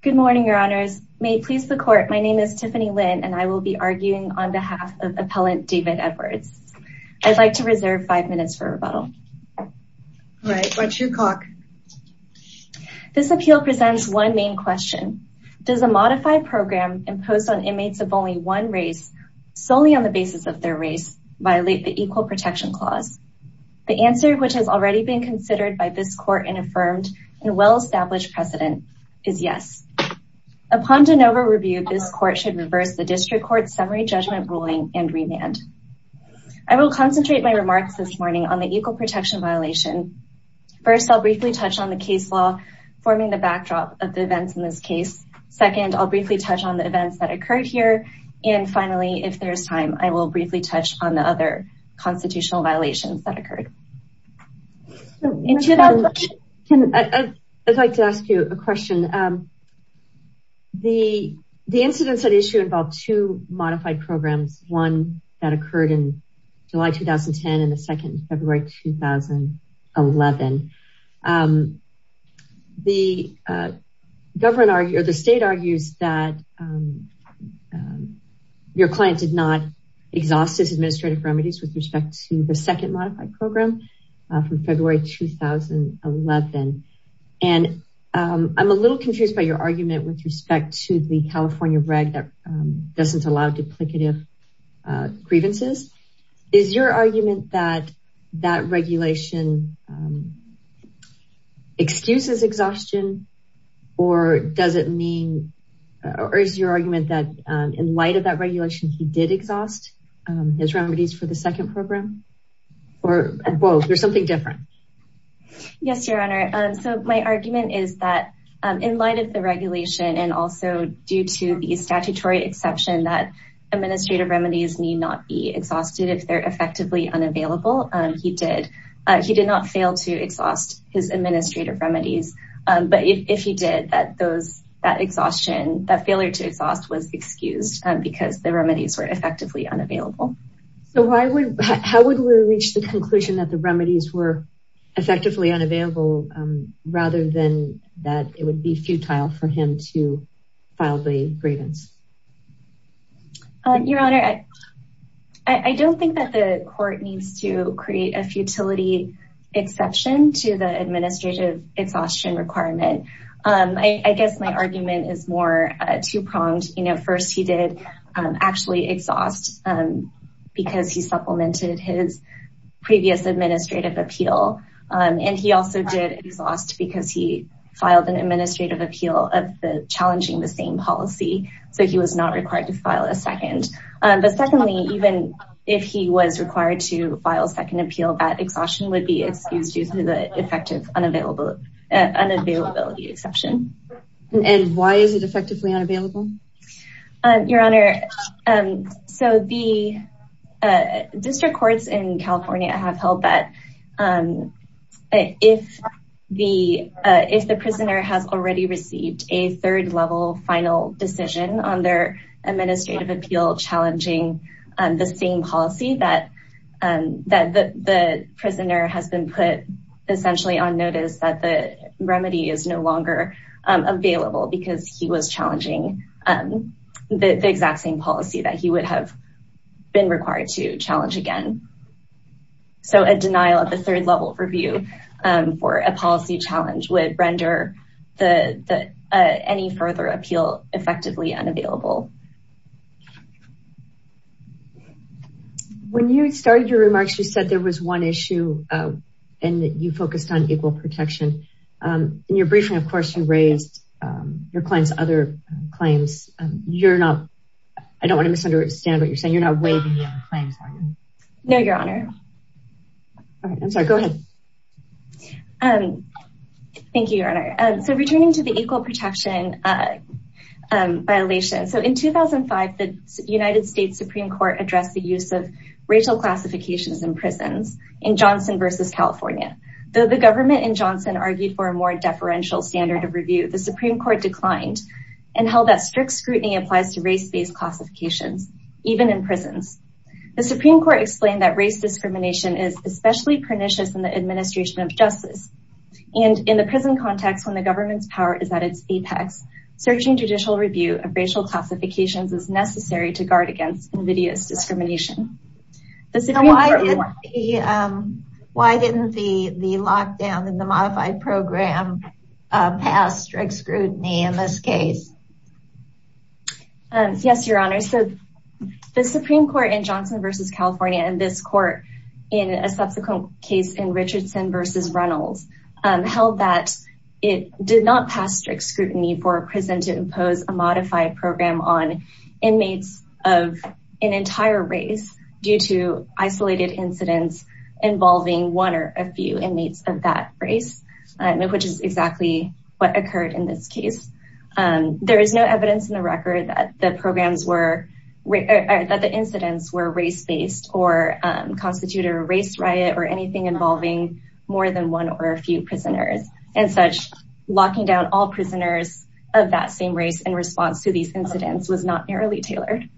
Good morning, your honors. May it please the court, my name is Tiffany Lin and I will be arguing on behalf of appellant David Edwards. I'd like to reserve five minutes for rebuttal. All right, why don't you talk. This appeal presents one main question. Does a modified program imposed on inmates of only one race, solely on the basis of their race, violate the answer which has already been considered by this court and affirmed and well-established precedent is yes. Upon de novo review, this court should reverse the district court's summary judgment ruling and remand. I will concentrate my remarks this morning on the equal protection violation. First, I'll briefly touch on the case law forming the backdrop of the events in this case. Second, I'll briefly touch on the events that occurred here. And finally, if there's time, I will briefly touch on the other constitutional violations that occurred. I'd like to ask you a question. The incidents at issue involved two modified programs, one that occurred in July 2010 and second in February 2011. The state argues that your client did not exhaust his administrative remedies with respect to the second modified program from February 2011. And I'm a little confused by your argument with respect to the California reg that doesn't allow duplicative grievances. Is your argument that that regulation excuses exhaustion or does it mean or is your argument that in light of that regulation, he did exhaust his remedies for the second program or both or something different? Yes, your honor. So my argument is that in light of the regulation and also due to the not be exhausted if they're effectively unavailable, he did not fail to exhaust his administrative remedies. But if he did, that exhaustion, that failure to exhaust was excused because the remedies were effectively unavailable. So how would we reach the conclusion that the remedies were effectively unavailable rather than that it would be futile for him to I don't think that the court needs to create a futility exception to the administrative exhaustion requirement. I guess my argument is more two pronged. First, he did actually exhaust because he supplemented his previous administrative appeal. And he also did exhaust because he filed an administrative appeal of the challenging the same policy. So he was not required to file a second. But secondly, even if he was required to file a second appeal, that exhaustion would be excused due to the effective unavailability exception. And why is it effectively unavailable? Your honor, so the district courts in California have held that if the prisoner has already decision on their administrative appeal challenging the same policy that that the prisoner has been put essentially on notice that the remedy is no longer available because he was challenging the exact same policy that he would have been required to challenge again. So a denial of the third level review for a policy challenge would render the any further appeal effectively unavailable. When you started your remarks, you said there was one issue, and you focused on equal protection. In your briefing, of course, you raised your clients other claims. You're not I don't want to misunderstand what you're saying. You're not waiving claims. No, your honor. I'm sorry. Go ahead. Thank you, your honor. So returning to equal protection violations. So in 2005, the United States Supreme Court addressed the use of racial classifications in prisons in Johnson versus California. Though the government in Johnson argued for a more deferential standard of review, the Supreme Court declined and held that strict scrutiny applies to race based classifications, even in prisons. The Supreme Court explained that race discrimination is especially pernicious in the administration of at its apex, searching judicial review of racial classifications is necessary to guard against invidious discrimination. Why didn't the the lockdown and the modified program pass strict scrutiny in this case? Yes, your honor. So the Supreme Court in Johnson versus California and this court, in a subsequent case in Richardson versus Reynolds, held that it did not pass strict scrutiny for a prison to impose a modified program on inmates of an entire race due to isolated incidents involving one or a few inmates of that race, which is exactly what occurred in this case. There is no evidence in the record that the programs were that the incidents were race based or constitute a race riot or anything involving more than one or a few prisoners and such. Locking down all prisoners of that same race in response to these incidents was not narrowly tailored.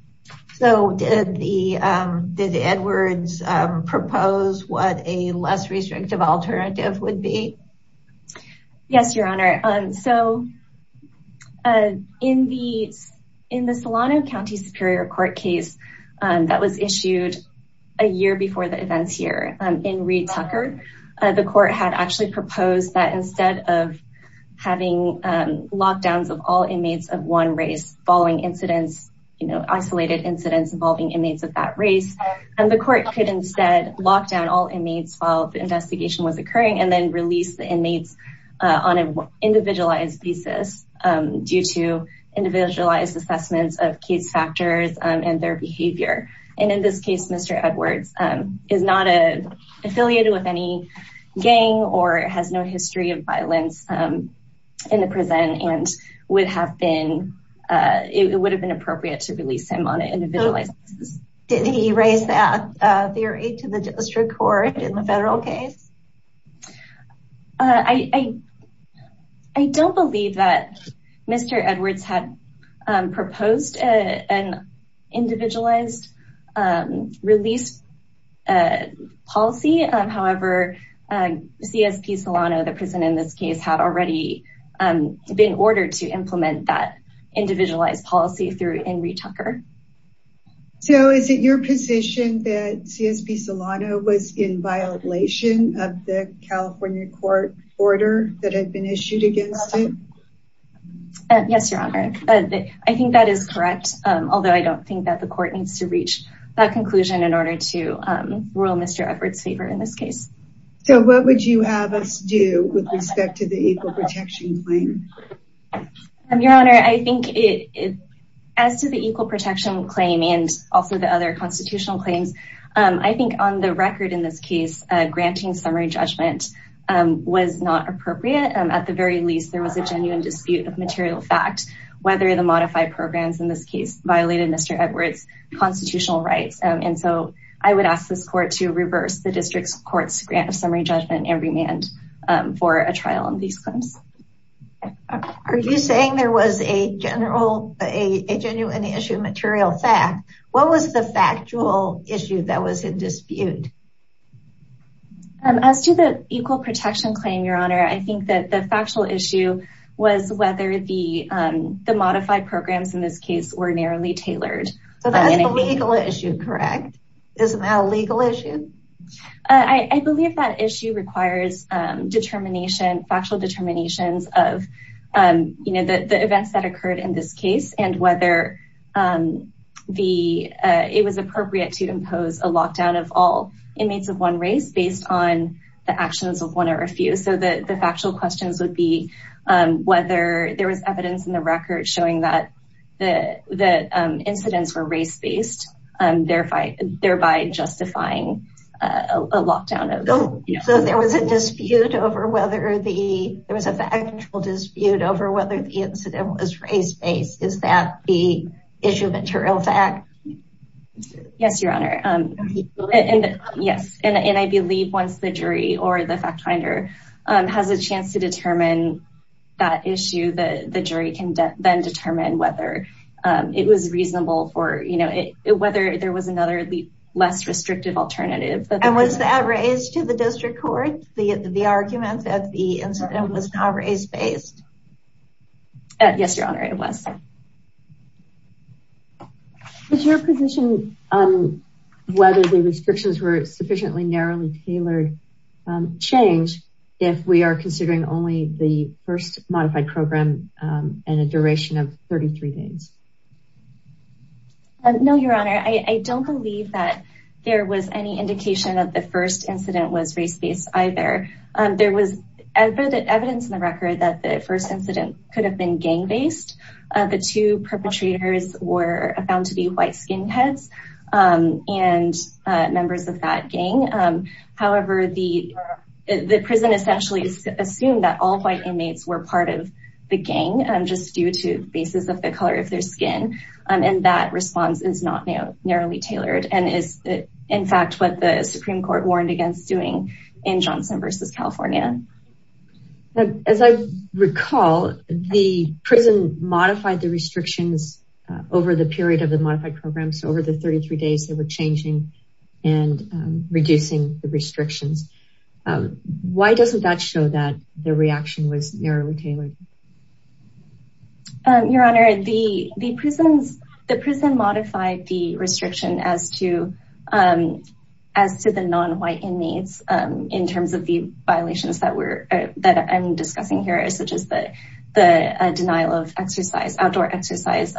So did the did Edwards propose what a less restrictive alternative would be? Yes, your honor. So in the in the Solano County Superior Court case that was issued a year before the events here in Reed Tucker, the court had actually proposed that instead of having lockdowns of all inmates of one race following incidents, you know, isolated incidents involving inmates of that race, and the court could instead lock down all inmates while the investigation was occurring and then release the inmates on an individualized thesis due to the fact that the inmate of that race, Mr. Edwards, is not affiliated with any gang or has no history of violence in the prison and it would have been appropriate to release him on an individualized thesis. Did he raise that theory to the district court in the federal case? I don't believe that Mr. Edwards had proposed an individualized release policy. However, CSP Solano, the prison in this case, had already been ordered to implement that individualized policy through in Reed Tucker. So is it your position that CSP Solano was in violation of the California court order that had been issued against him? Yes, your honor. I think that is correct. Although I don't think that the court needs to reach that conclusion in order to rule Mr. Edwards favor in this case. So what would you have us do with respect to the equal protection claim? Your honor, I think it as to the equal protection claim and also the other constitutional claims, I think on the record in this case, granting summary judgment was not appropriate. At the very least, there was a genuine dispute of material fact whether the modified programs in this case violated Mr. Edwards' constitutional rights. And so I would ask this court to reverse the district court's grant of summary judgment and remand for a trial on these claims. Okay. Are you saying there was a general, a genuine issue of material fact? What was the factual issue that was in dispute? As to the equal protection claim, your honor, I think that the factual issue was whether the modified programs in this case were narrowly tailored. So that's the legal issue, correct? Isn't that a legal issue? I believe that issue requires factual determinations of the events that occurred in this case and whether it was appropriate to impose a lockdown of all inmates of one race based on the actions of one or a few. So the factual questions would be whether there was evidence in the record showing that incidents were race-based, thereby justifying a lockdown. So there was a dispute over whether the, there was a factual dispute over whether the incident was race-based. Is that the issue of material fact? Yes, your honor. Yes. And I believe once the jury or the fact finder has a chance to determine that issue, the jury can then determine whether it was reasonable for, you know, whether there was another less restrictive alternative. Was that raised to the district court, the argument that the incident was not race-based? Yes, your honor, it was. Is your position on whether the restrictions were sufficiently narrowly tailored change if we are considering only the first modified program and a duration of 33 days? No, your honor. I don't believe that there was any indication of the first incident was race-based either. There was evidence in the record that the first incident could have been gang-based. The two perpetrators were found to be white skinheads and members of that gang. However, the prison essentially assumed that all white inmates were part of the gang, just due to basis of the color of their skin. And that response is not narrowly tailored and is in fact what the Supreme Court warned against doing in Johnson versus California. As I recall, the prison modified the restrictions over the period of the modified program. So over 33 days, they were changing and reducing the restrictions. Why doesn't that show that the reaction was narrowly tailored? Your honor, the prison modified the restriction as to the non-white inmates in terms of the violations that I'm discussing here, such as the denial of outdoor exercise.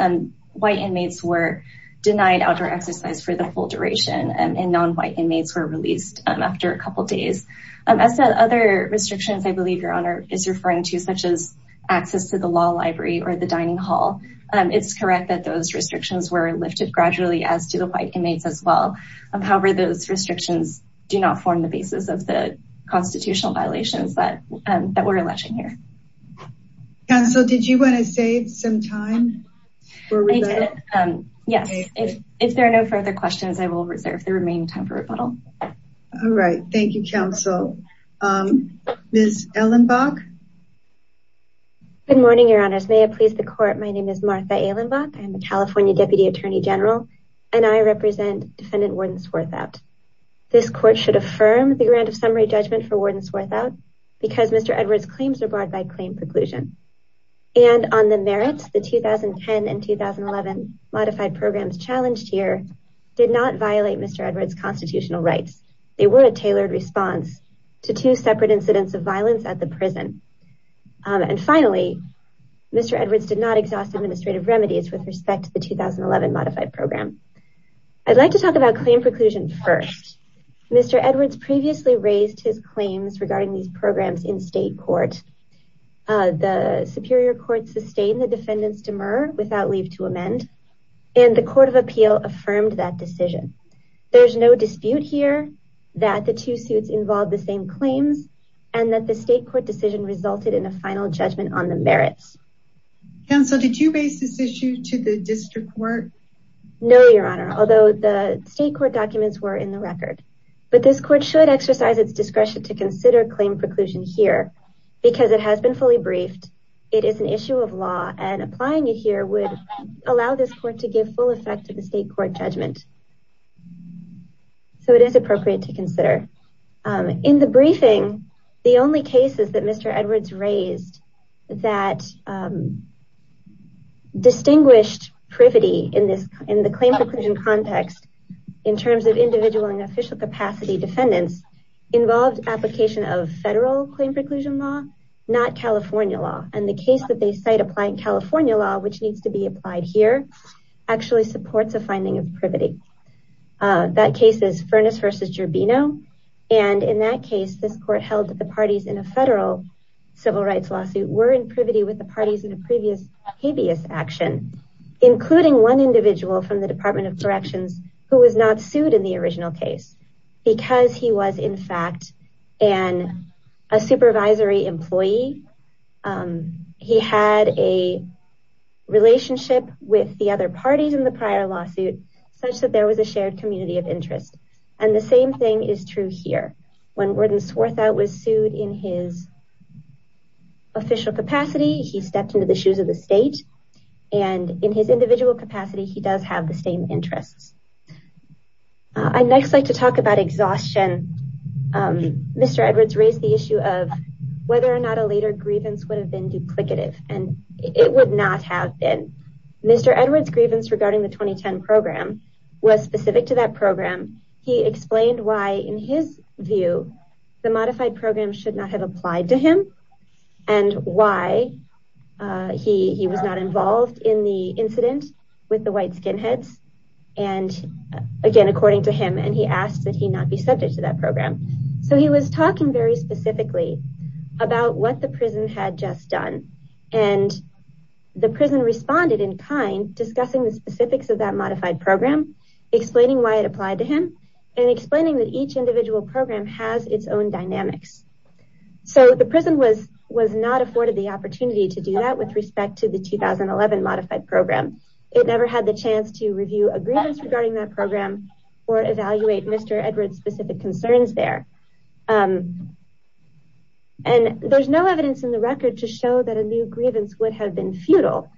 White inmates were denied outdoor exercise for the full duration and non-white inmates were released after a couple days. As to the other restrictions I believe your honor is referring to, such as access to the law library or the dining hall, it's correct that those restrictions were lifted gradually as to the white inmates as well. However, those restrictions do not form the basis of the constitutional violations that we're alleging here. Counsel, did you want to save some time for rebuttal? Yes, if there are no further questions, I will reserve the remaining time for rebuttal. All right, thank you, counsel. Ms. Ehlenbach? Good morning, your honors. May it please the court, my name is Martha Ehlenbach. I'm the California Deputy Attorney General and I represent defendant Warden Swarthout. This court should affirm the grant of summary judgment for Warden Swarthout because Mr. Edwards' claims are barred by claim preclusion. And on the merits, the 2010 and 2011 modified programs challenged here did not violate Mr. Edwards' constitutional rights. They were a tailored response to two separate incidents of violence at the prison. And finally, Mr. Edwards did not exhaust administrative remedies with respect to the 2011 modified program. I'd like to talk about claim preclusion first. Mr. Edwards previously raised his claims regarding these programs in state court. The Superior Court sustained the defendant's demur without leave to amend and the Court of Appeal affirmed that decision. There's no dispute here that the two suits involved the same claims and that the state court decision resulted in a final judgment on the merits. Counsel, did you base this issue to the district court? No, your honor, although the state court documents were in the record. But this court should exercise its discretion to consider claim preclusion here because it has been fully briefed. It is an issue of law and applying it here would allow this court to give full effect to the state court judgment. So it is appropriate to consider. In the briefing, the only cases that Mr. Edwards raised that distinguished privity in the claim preclusion context in terms of individual and official capacity defendants involved application of federal claim preclusion law, not California law. And the case that they cite applying California law, which needs to be applied here, actually supports a finding of privity. That case is Furness v. Gerbino. And in that case, this court held that the parties in a federal civil rights lawsuit were in privity with the parties in the previous habeas action, including one individual from the Department of Corrections who was not sued in the original case because he was in fact an a supervisory employee. He had a relationship with the other parties in the prior lawsuit such that there was a shared community of interest. And the same thing is true here. When Worden Swarthout was sued in his official capacity, he stepped into the shoes of the state. And in his individual capacity, he does have the same interests. I'd next like to talk about exhaustion. Mr. Edwards raised the issue of whether or not a later grievance would have been duplicative. And it would not have been. Mr. Edwards' grievance regarding the 2010 program was specific to that program. He explained why in his view, the modified program should not have applied to him and why he was not involved in the incident with the white skinheads. And again, according to him, and he asked that he not be subject to that program. So he was talking very specifically about what the prison had just done. And the prison responded in kind, discussing the specifics of that modified program, explaining why it applied to him and explaining that each individual program has its own dynamics. So the prison was not afforded the opportunity to do that with respect to the 2011 modified program. It never had the chance to review a grievance regarding that program or evaluate Mr. Edwards' specific concerns there. And there's no evidence in the record to show that a new grievance would have been futile.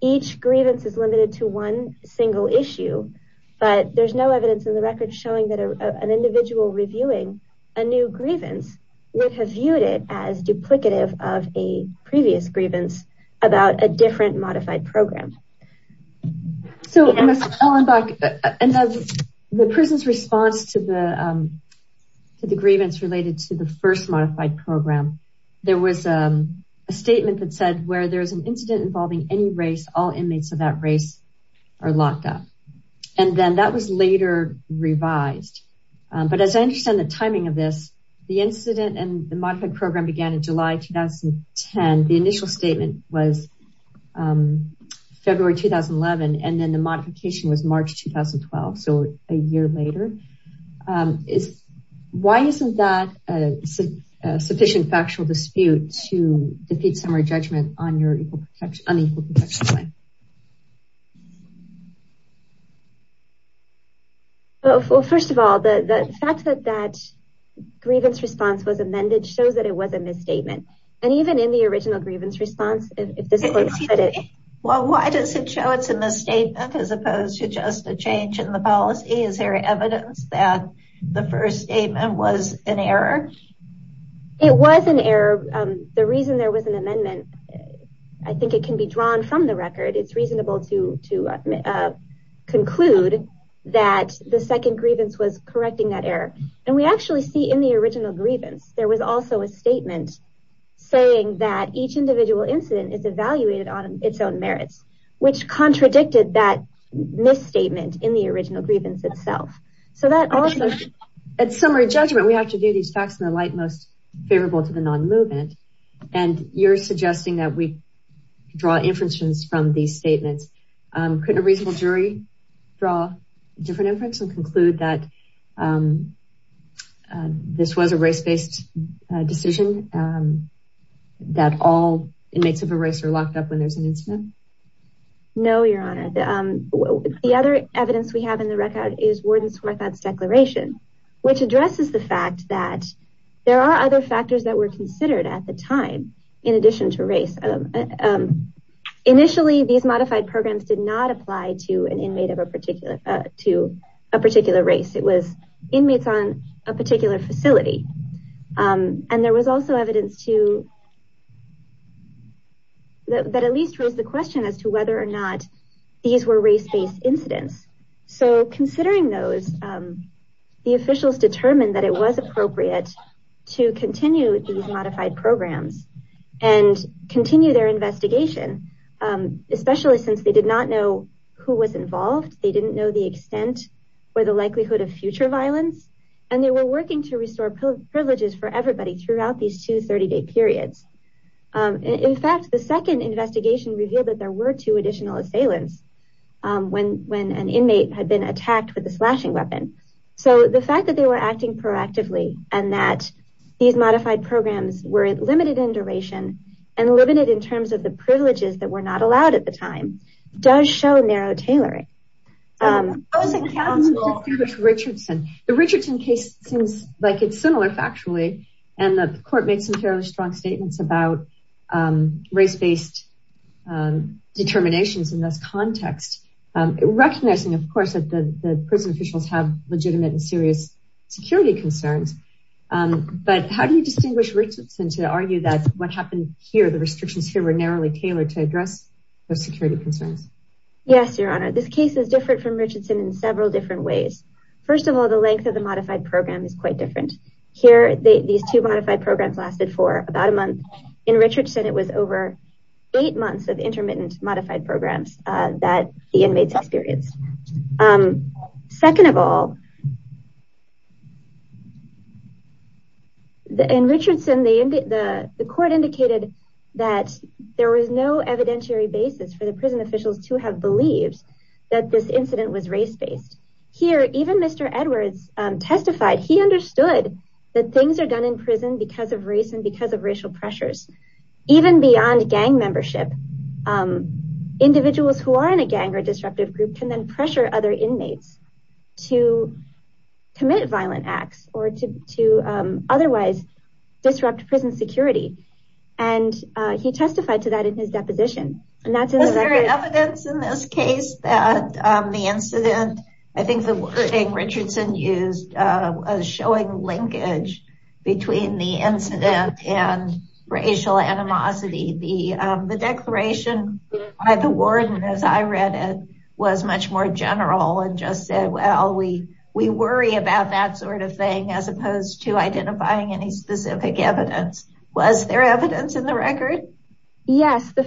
Each grievance is limited to one single issue, but there's no evidence in the record showing that an individual reviewing a new grievance would have viewed it as duplicative of a previous grievance about a different modified program. So, Ms. Ellenbach, in the prison's response to the grievance related to the first modified program, there was a statement that said, where there's an incident involving any race, all inmates of that race are locked up. And then that was later revised. But as I understand the timing of this, the incident and the modified program began in July 2010. The initial statement was February 2011, and then the modification was March 2012, so a year later. Why isn't that sufficient factual dispute to defeat summary judgment on your unequal protection claim? Well, first of all, the fact that that grievance response was amended shows that it was a misstatement. And even in the original grievance response, it doesn't look like it. Well, why does it show it's a misstatement as opposed to just a change in the policy? Is there evidence that the first statement was an error? It was an error. The reason there was an amendment, I think it can be drawn from the record. It's reasonable to conclude that the second grievance was correcting that error. And we actually see in the original grievance, there was also a statement saying that each individual incident is evaluated on its own merits, which contradicted that misstatement in the original grievance itself. At summary judgment, we have to do these facts in the light most favorable to the non-movement. And you're suggesting that we draw inferences from these statements. Couldn't a reasonable jury draw a different inference and conclude that this was a race-based decision, that all inmates of a race are locked up when there's an incident? No, Your Honor. The other evidence we have in the record is Warden Swarthout's declaration, which addresses the fact that there are other factors that were considered at the time, in addition to race. Initially, these modified programs did not apply to an inmate of a particular race. It was inmates on a particular facility. And there was also evidence that at least raised the question as to whether or not these were race-based incidents. So considering those, the officials determined that it was appropriate to continue these modified programs and continue their investigation, especially since they did not know who was involved. They didn't know the extent or the likelihood of future violence. And they were working to restore privileges for everybody throughout these two 30-day periods. In fact, the second investigation revealed that there were two additional assailants when an inmate had been attacked with a slashing weapon. So the fact that they were acting proactively and that these modified programs were limited in duration and limited in terms of the privileges that were not allowed at the time, does show narrow tailoring. The Richardson case seems like it's similar, factually. And the court made some fairly strong statements about race-based determinations in this context, recognizing, of course, that the prison officials have legitimate and serious security concerns. But how do you distinguish Richardson to argue that what happened here, the restrictions here, were narrowly tailored to Yes, Your Honor. This case is different from Richardson in several different ways. First of all, the length of the modified program is quite different. Here, these two modified programs lasted for about a month. In Richardson, it was over eight months of intermittent modified programs that the inmates experienced. Second of all, in Richardson, the court indicated that there was no evidentiary basis for the prison officials to have believed that this incident was race-based. Here, even Mr. Edwards testified he understood that things are done in prison because of race and because of racial pressures. Even beyond gang membership, individuals who are in a gang or disruptive group can then pressure other inmates to commit violent acts or to otherwise disrupt prison security. And he testified to that in his deposition. Was there evidence in this case that the incident, I think the wording Richardson used, was showing linkage between the incident and racial animosity. The declaration by the warden, as I read it, was much more general and just said, well, we worry about that sort of thing, as opposed to identifying any specific evidence. Was there evidence in the record? Yes. In the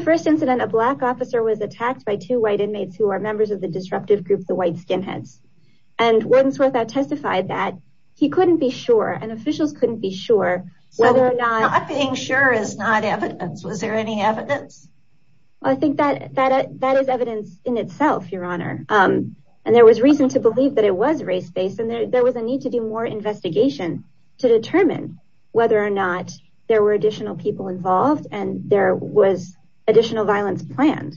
first incident, a black officer was attacked by two white inmates who are members of the disruptive group, the White Skinheads. And Warden Swarthout testified that he couldn't be sure, and officials couldn't be sure, whether or not... Not being sure is not evidence. Was there any evidence? I think that is evidence in itself, Your Honor. And there was reason to believe that it was race-based, and there was a need to do more investigation to determine whether or not there were additional people involved and there was additional violence planned.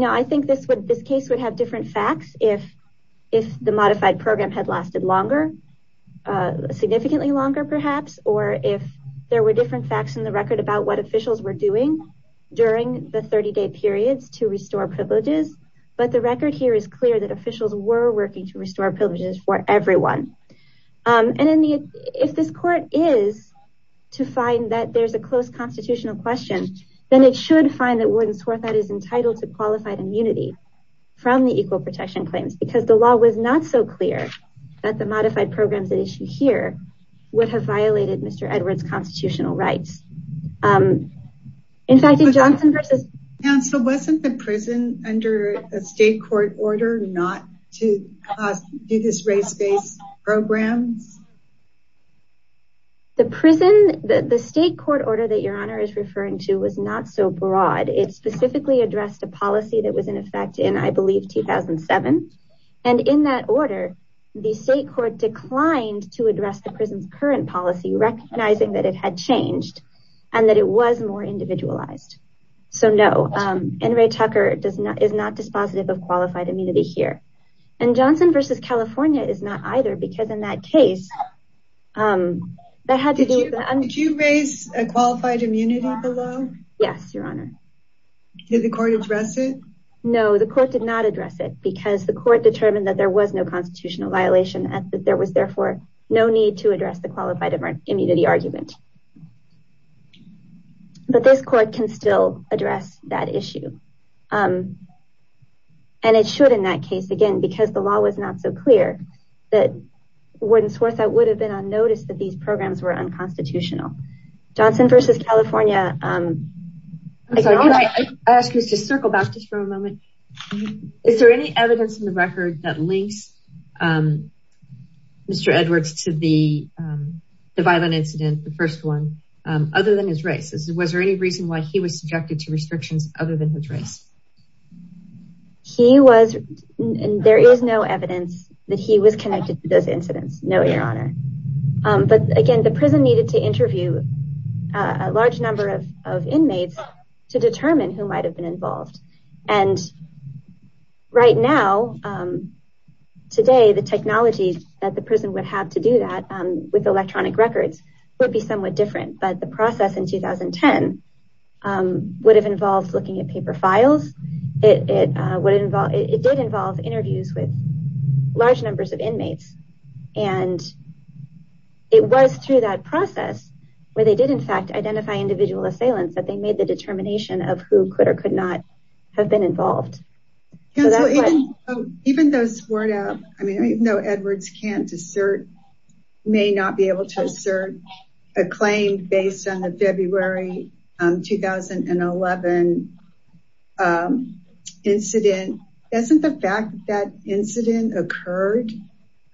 I think this case would have different facts if the modified program had lasted longer, significantly longer, perhaps, or if there were different facts in the record about what officials were doing during the 30-day periods to restore privileges. But the record here is we're working to restore privileges for everyone. And if this court is to find that there's a close constitutional question, then it should find that Warden Swarthout is entitled to qualified immunity from the Equal Protection Claims, because the law was not so clear that the modified programs at issue here would have violated Mr. Edwards' constitutional rights. In fact, in Johnson versus... Counsel, wasn't the prison under a state court order not to do this race-based programs? The prison... The state court order that Your Honor is referring to was not so broad. It specifically addressed a policy that was in effect in, I believe, 2007. And in that order, the state court declined to address the prison's current policy, recognizing that it had changed and that it was more individualized. So, no, N. Ray Tucker is not dispositive of qualified immunity here. And Johnson versus California is not either, because in that case... Did you raise a qualified immunity below? Yes, Your Honor. Did the court address it? No, the court did not address it, because the court determined that there was no constitutional violation and that there was therefore no need to address the qualified immunity argument. But this court can still address that issue. And it should, in that case, again, because the law was not so clear that Warden Swartzout would have been on notice that these programs were unconstitutional. Johnson versus California... I'm sorry, can I ask you to circle back just for a moment? Is there any evidence in the record that links Mr. Edwards to the violent incident, the first one, other than his race? Was there any reason why he was subjected to restrictions other than his race? There is no evidence that he was connected to those incidents, no, Your Honor. But again, the prison needed to interview a large number of inmates to determine who might have been involved. And right now, today, the technology that the prison would have to do that with electronic records would be somewhat different. But the process in 2010 would have involved looking at paper files. It did involve interviews with large numbers of inmates. And it was through that process where they did in fact identify individual assailants that they made the determination of who could or could not have been involved. Even though Edwards can't assert, may not be able to assert a claim based on the February 2011 incident, doesn't the fact that that incident occurred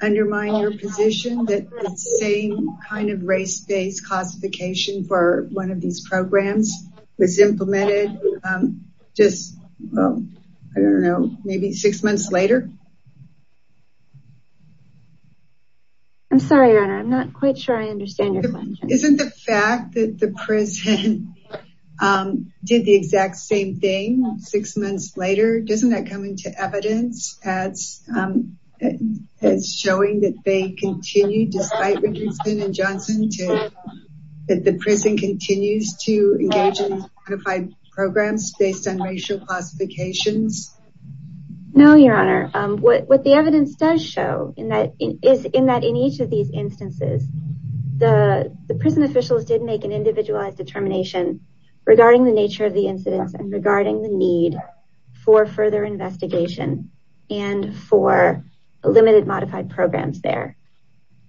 undermine your position that the same kind of race-based classification for one of these programs was implemented just, I don't know, maybe six months later? I'm sorry, Your Honor. I'm not quite sure I understand your question. Isn't the fact that the prison did the exact same thing six months later, doesn't that come into evidence as as showing that they continue despite Richardson and Johnson to, that the prison continues to engage in programs based on racial classifications? No, Your Honor. What the evidence does show in that is in that in each of these instances, the prison officials did make an individualized determination regarding the nature of the incidents and regarding the need for further investigation and for limited modified programs there.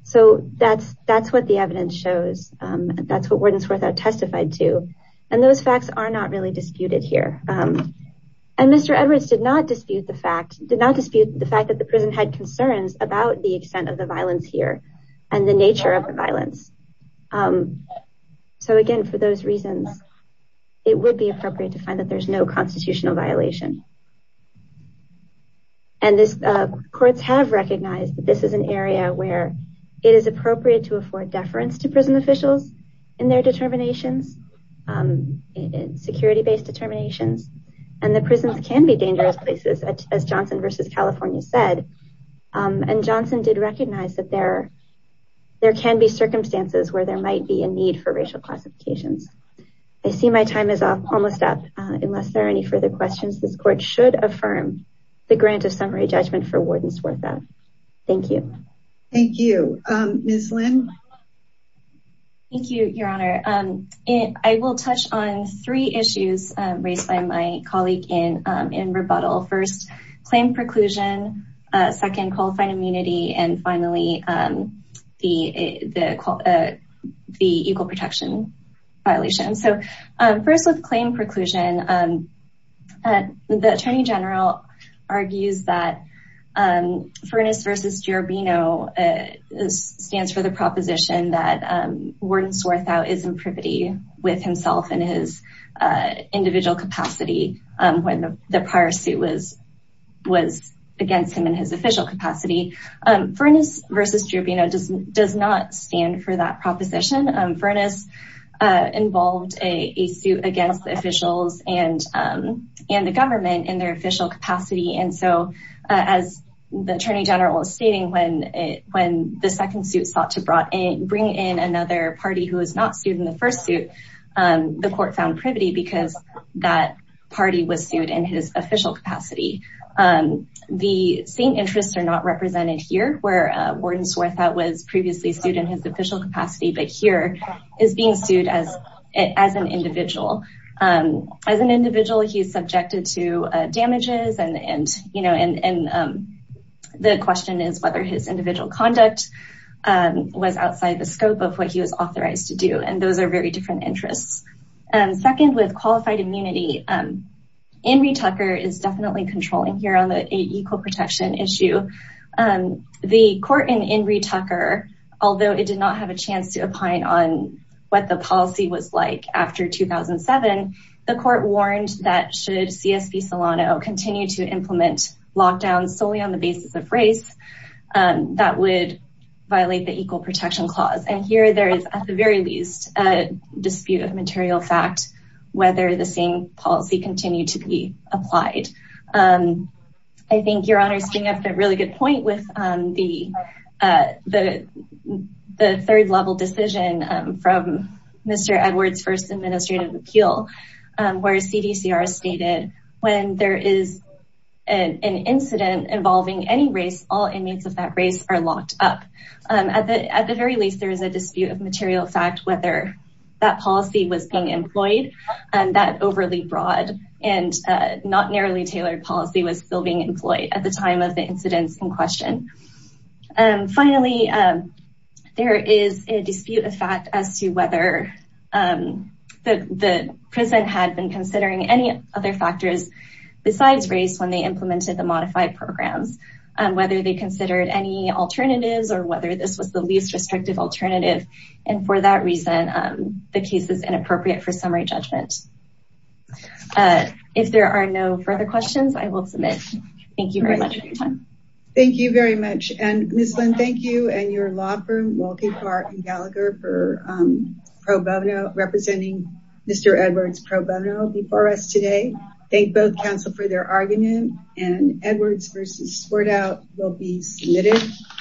So that's what the evidence shows. That's what Warden Swirthout testified to. And those facts are not really disputed here. And Mr. Edwards did not dispute the fact that the prison had concerns about the extent of the violence here and the nature of the violence. So again, for those reasons, it would be appropriate to find that there's no constitutional violation. And courts have recognized that this is an area where it is appropriate to afford deference to prison officials in their determinations, security-based determinations. And the prisons can be dangerous places, as Johnson versus California said. And Johnson did recognize that there can be circumstances where there might be need for racial classifications. I see my time is almost up. Unless there are any further questions, this court should affirm the grant of summary judgment for Warden Swirthout. Thank you. Thank you. Ms. Lin? Thank you, Your Honor. I will touch on three issues raised by my colleague in rebuttal. First, claim preclusion. Second, qualifying immunity. And finally, the equal protection violation. So first, with claim preclusion, the Attorney General argues that Furness versus Girobino stands for the proposition that Warden Swirthout is in privity with himself and his prior suit was against him in his official capacity. Furness versus Girobino does not stand for that proposition. Furness involved a suit against the officials and the government in their official capacity. And so, as the Attorney General was stating, when the second suit sought to bring in another party who was not sued in the first suit, the court found privity because that party was sued in his official capacity. The same interests are not represented here, where Warden Swirthout was previously sued in his official capacity, but here is being sued as an individual. As an individual, he is subjected to damages, and the question is whether his individual conduct was outside the scope of what he was authorized to do. And those are very different interests. Second, with qualified immunity, Enri Tucker is definitely controlling here on the equal protection issue. The court in Enri Tucker, although it did not have a chance to opine on what the policy was like after 2007, the court warned that should C.S.P. Solano continue to implement lockdowns solely on the basis of race, that would violate the equal protection clause. And here, there is, at the very least, a dispute of material fact whether the same policy continued to be applied. I think Your Honor is bringing up a really good point with the third level decision from Mr. Edwards' first administrative appeal, where CDCR stated, when there is an incident involving any race, all inmates of that race are locked up. At the very least, there is a dispute of material fact whether that policy was being employed, and that overly broad and not narrowly tailored policy was still being employed at the time of the incidents in question. Finally, there is a dispute of fact as to whether the prison had been considering any other factors besides race when they implemented the modified programs, whether they considered any alternatives, or whether this was the least restrictive alternative, and for that reason, the case is inappropriate for summary judgment. If there are no further questions, I will submit. Thank you very much for your time. Thank you very much, and Ms. Lin, thank you and your law firm, Walking Park and Gallagher, for representing Mr. Edwards pro bono before us today. Thank both counsel for their argument and Edwards versus Sport Out will be submitted.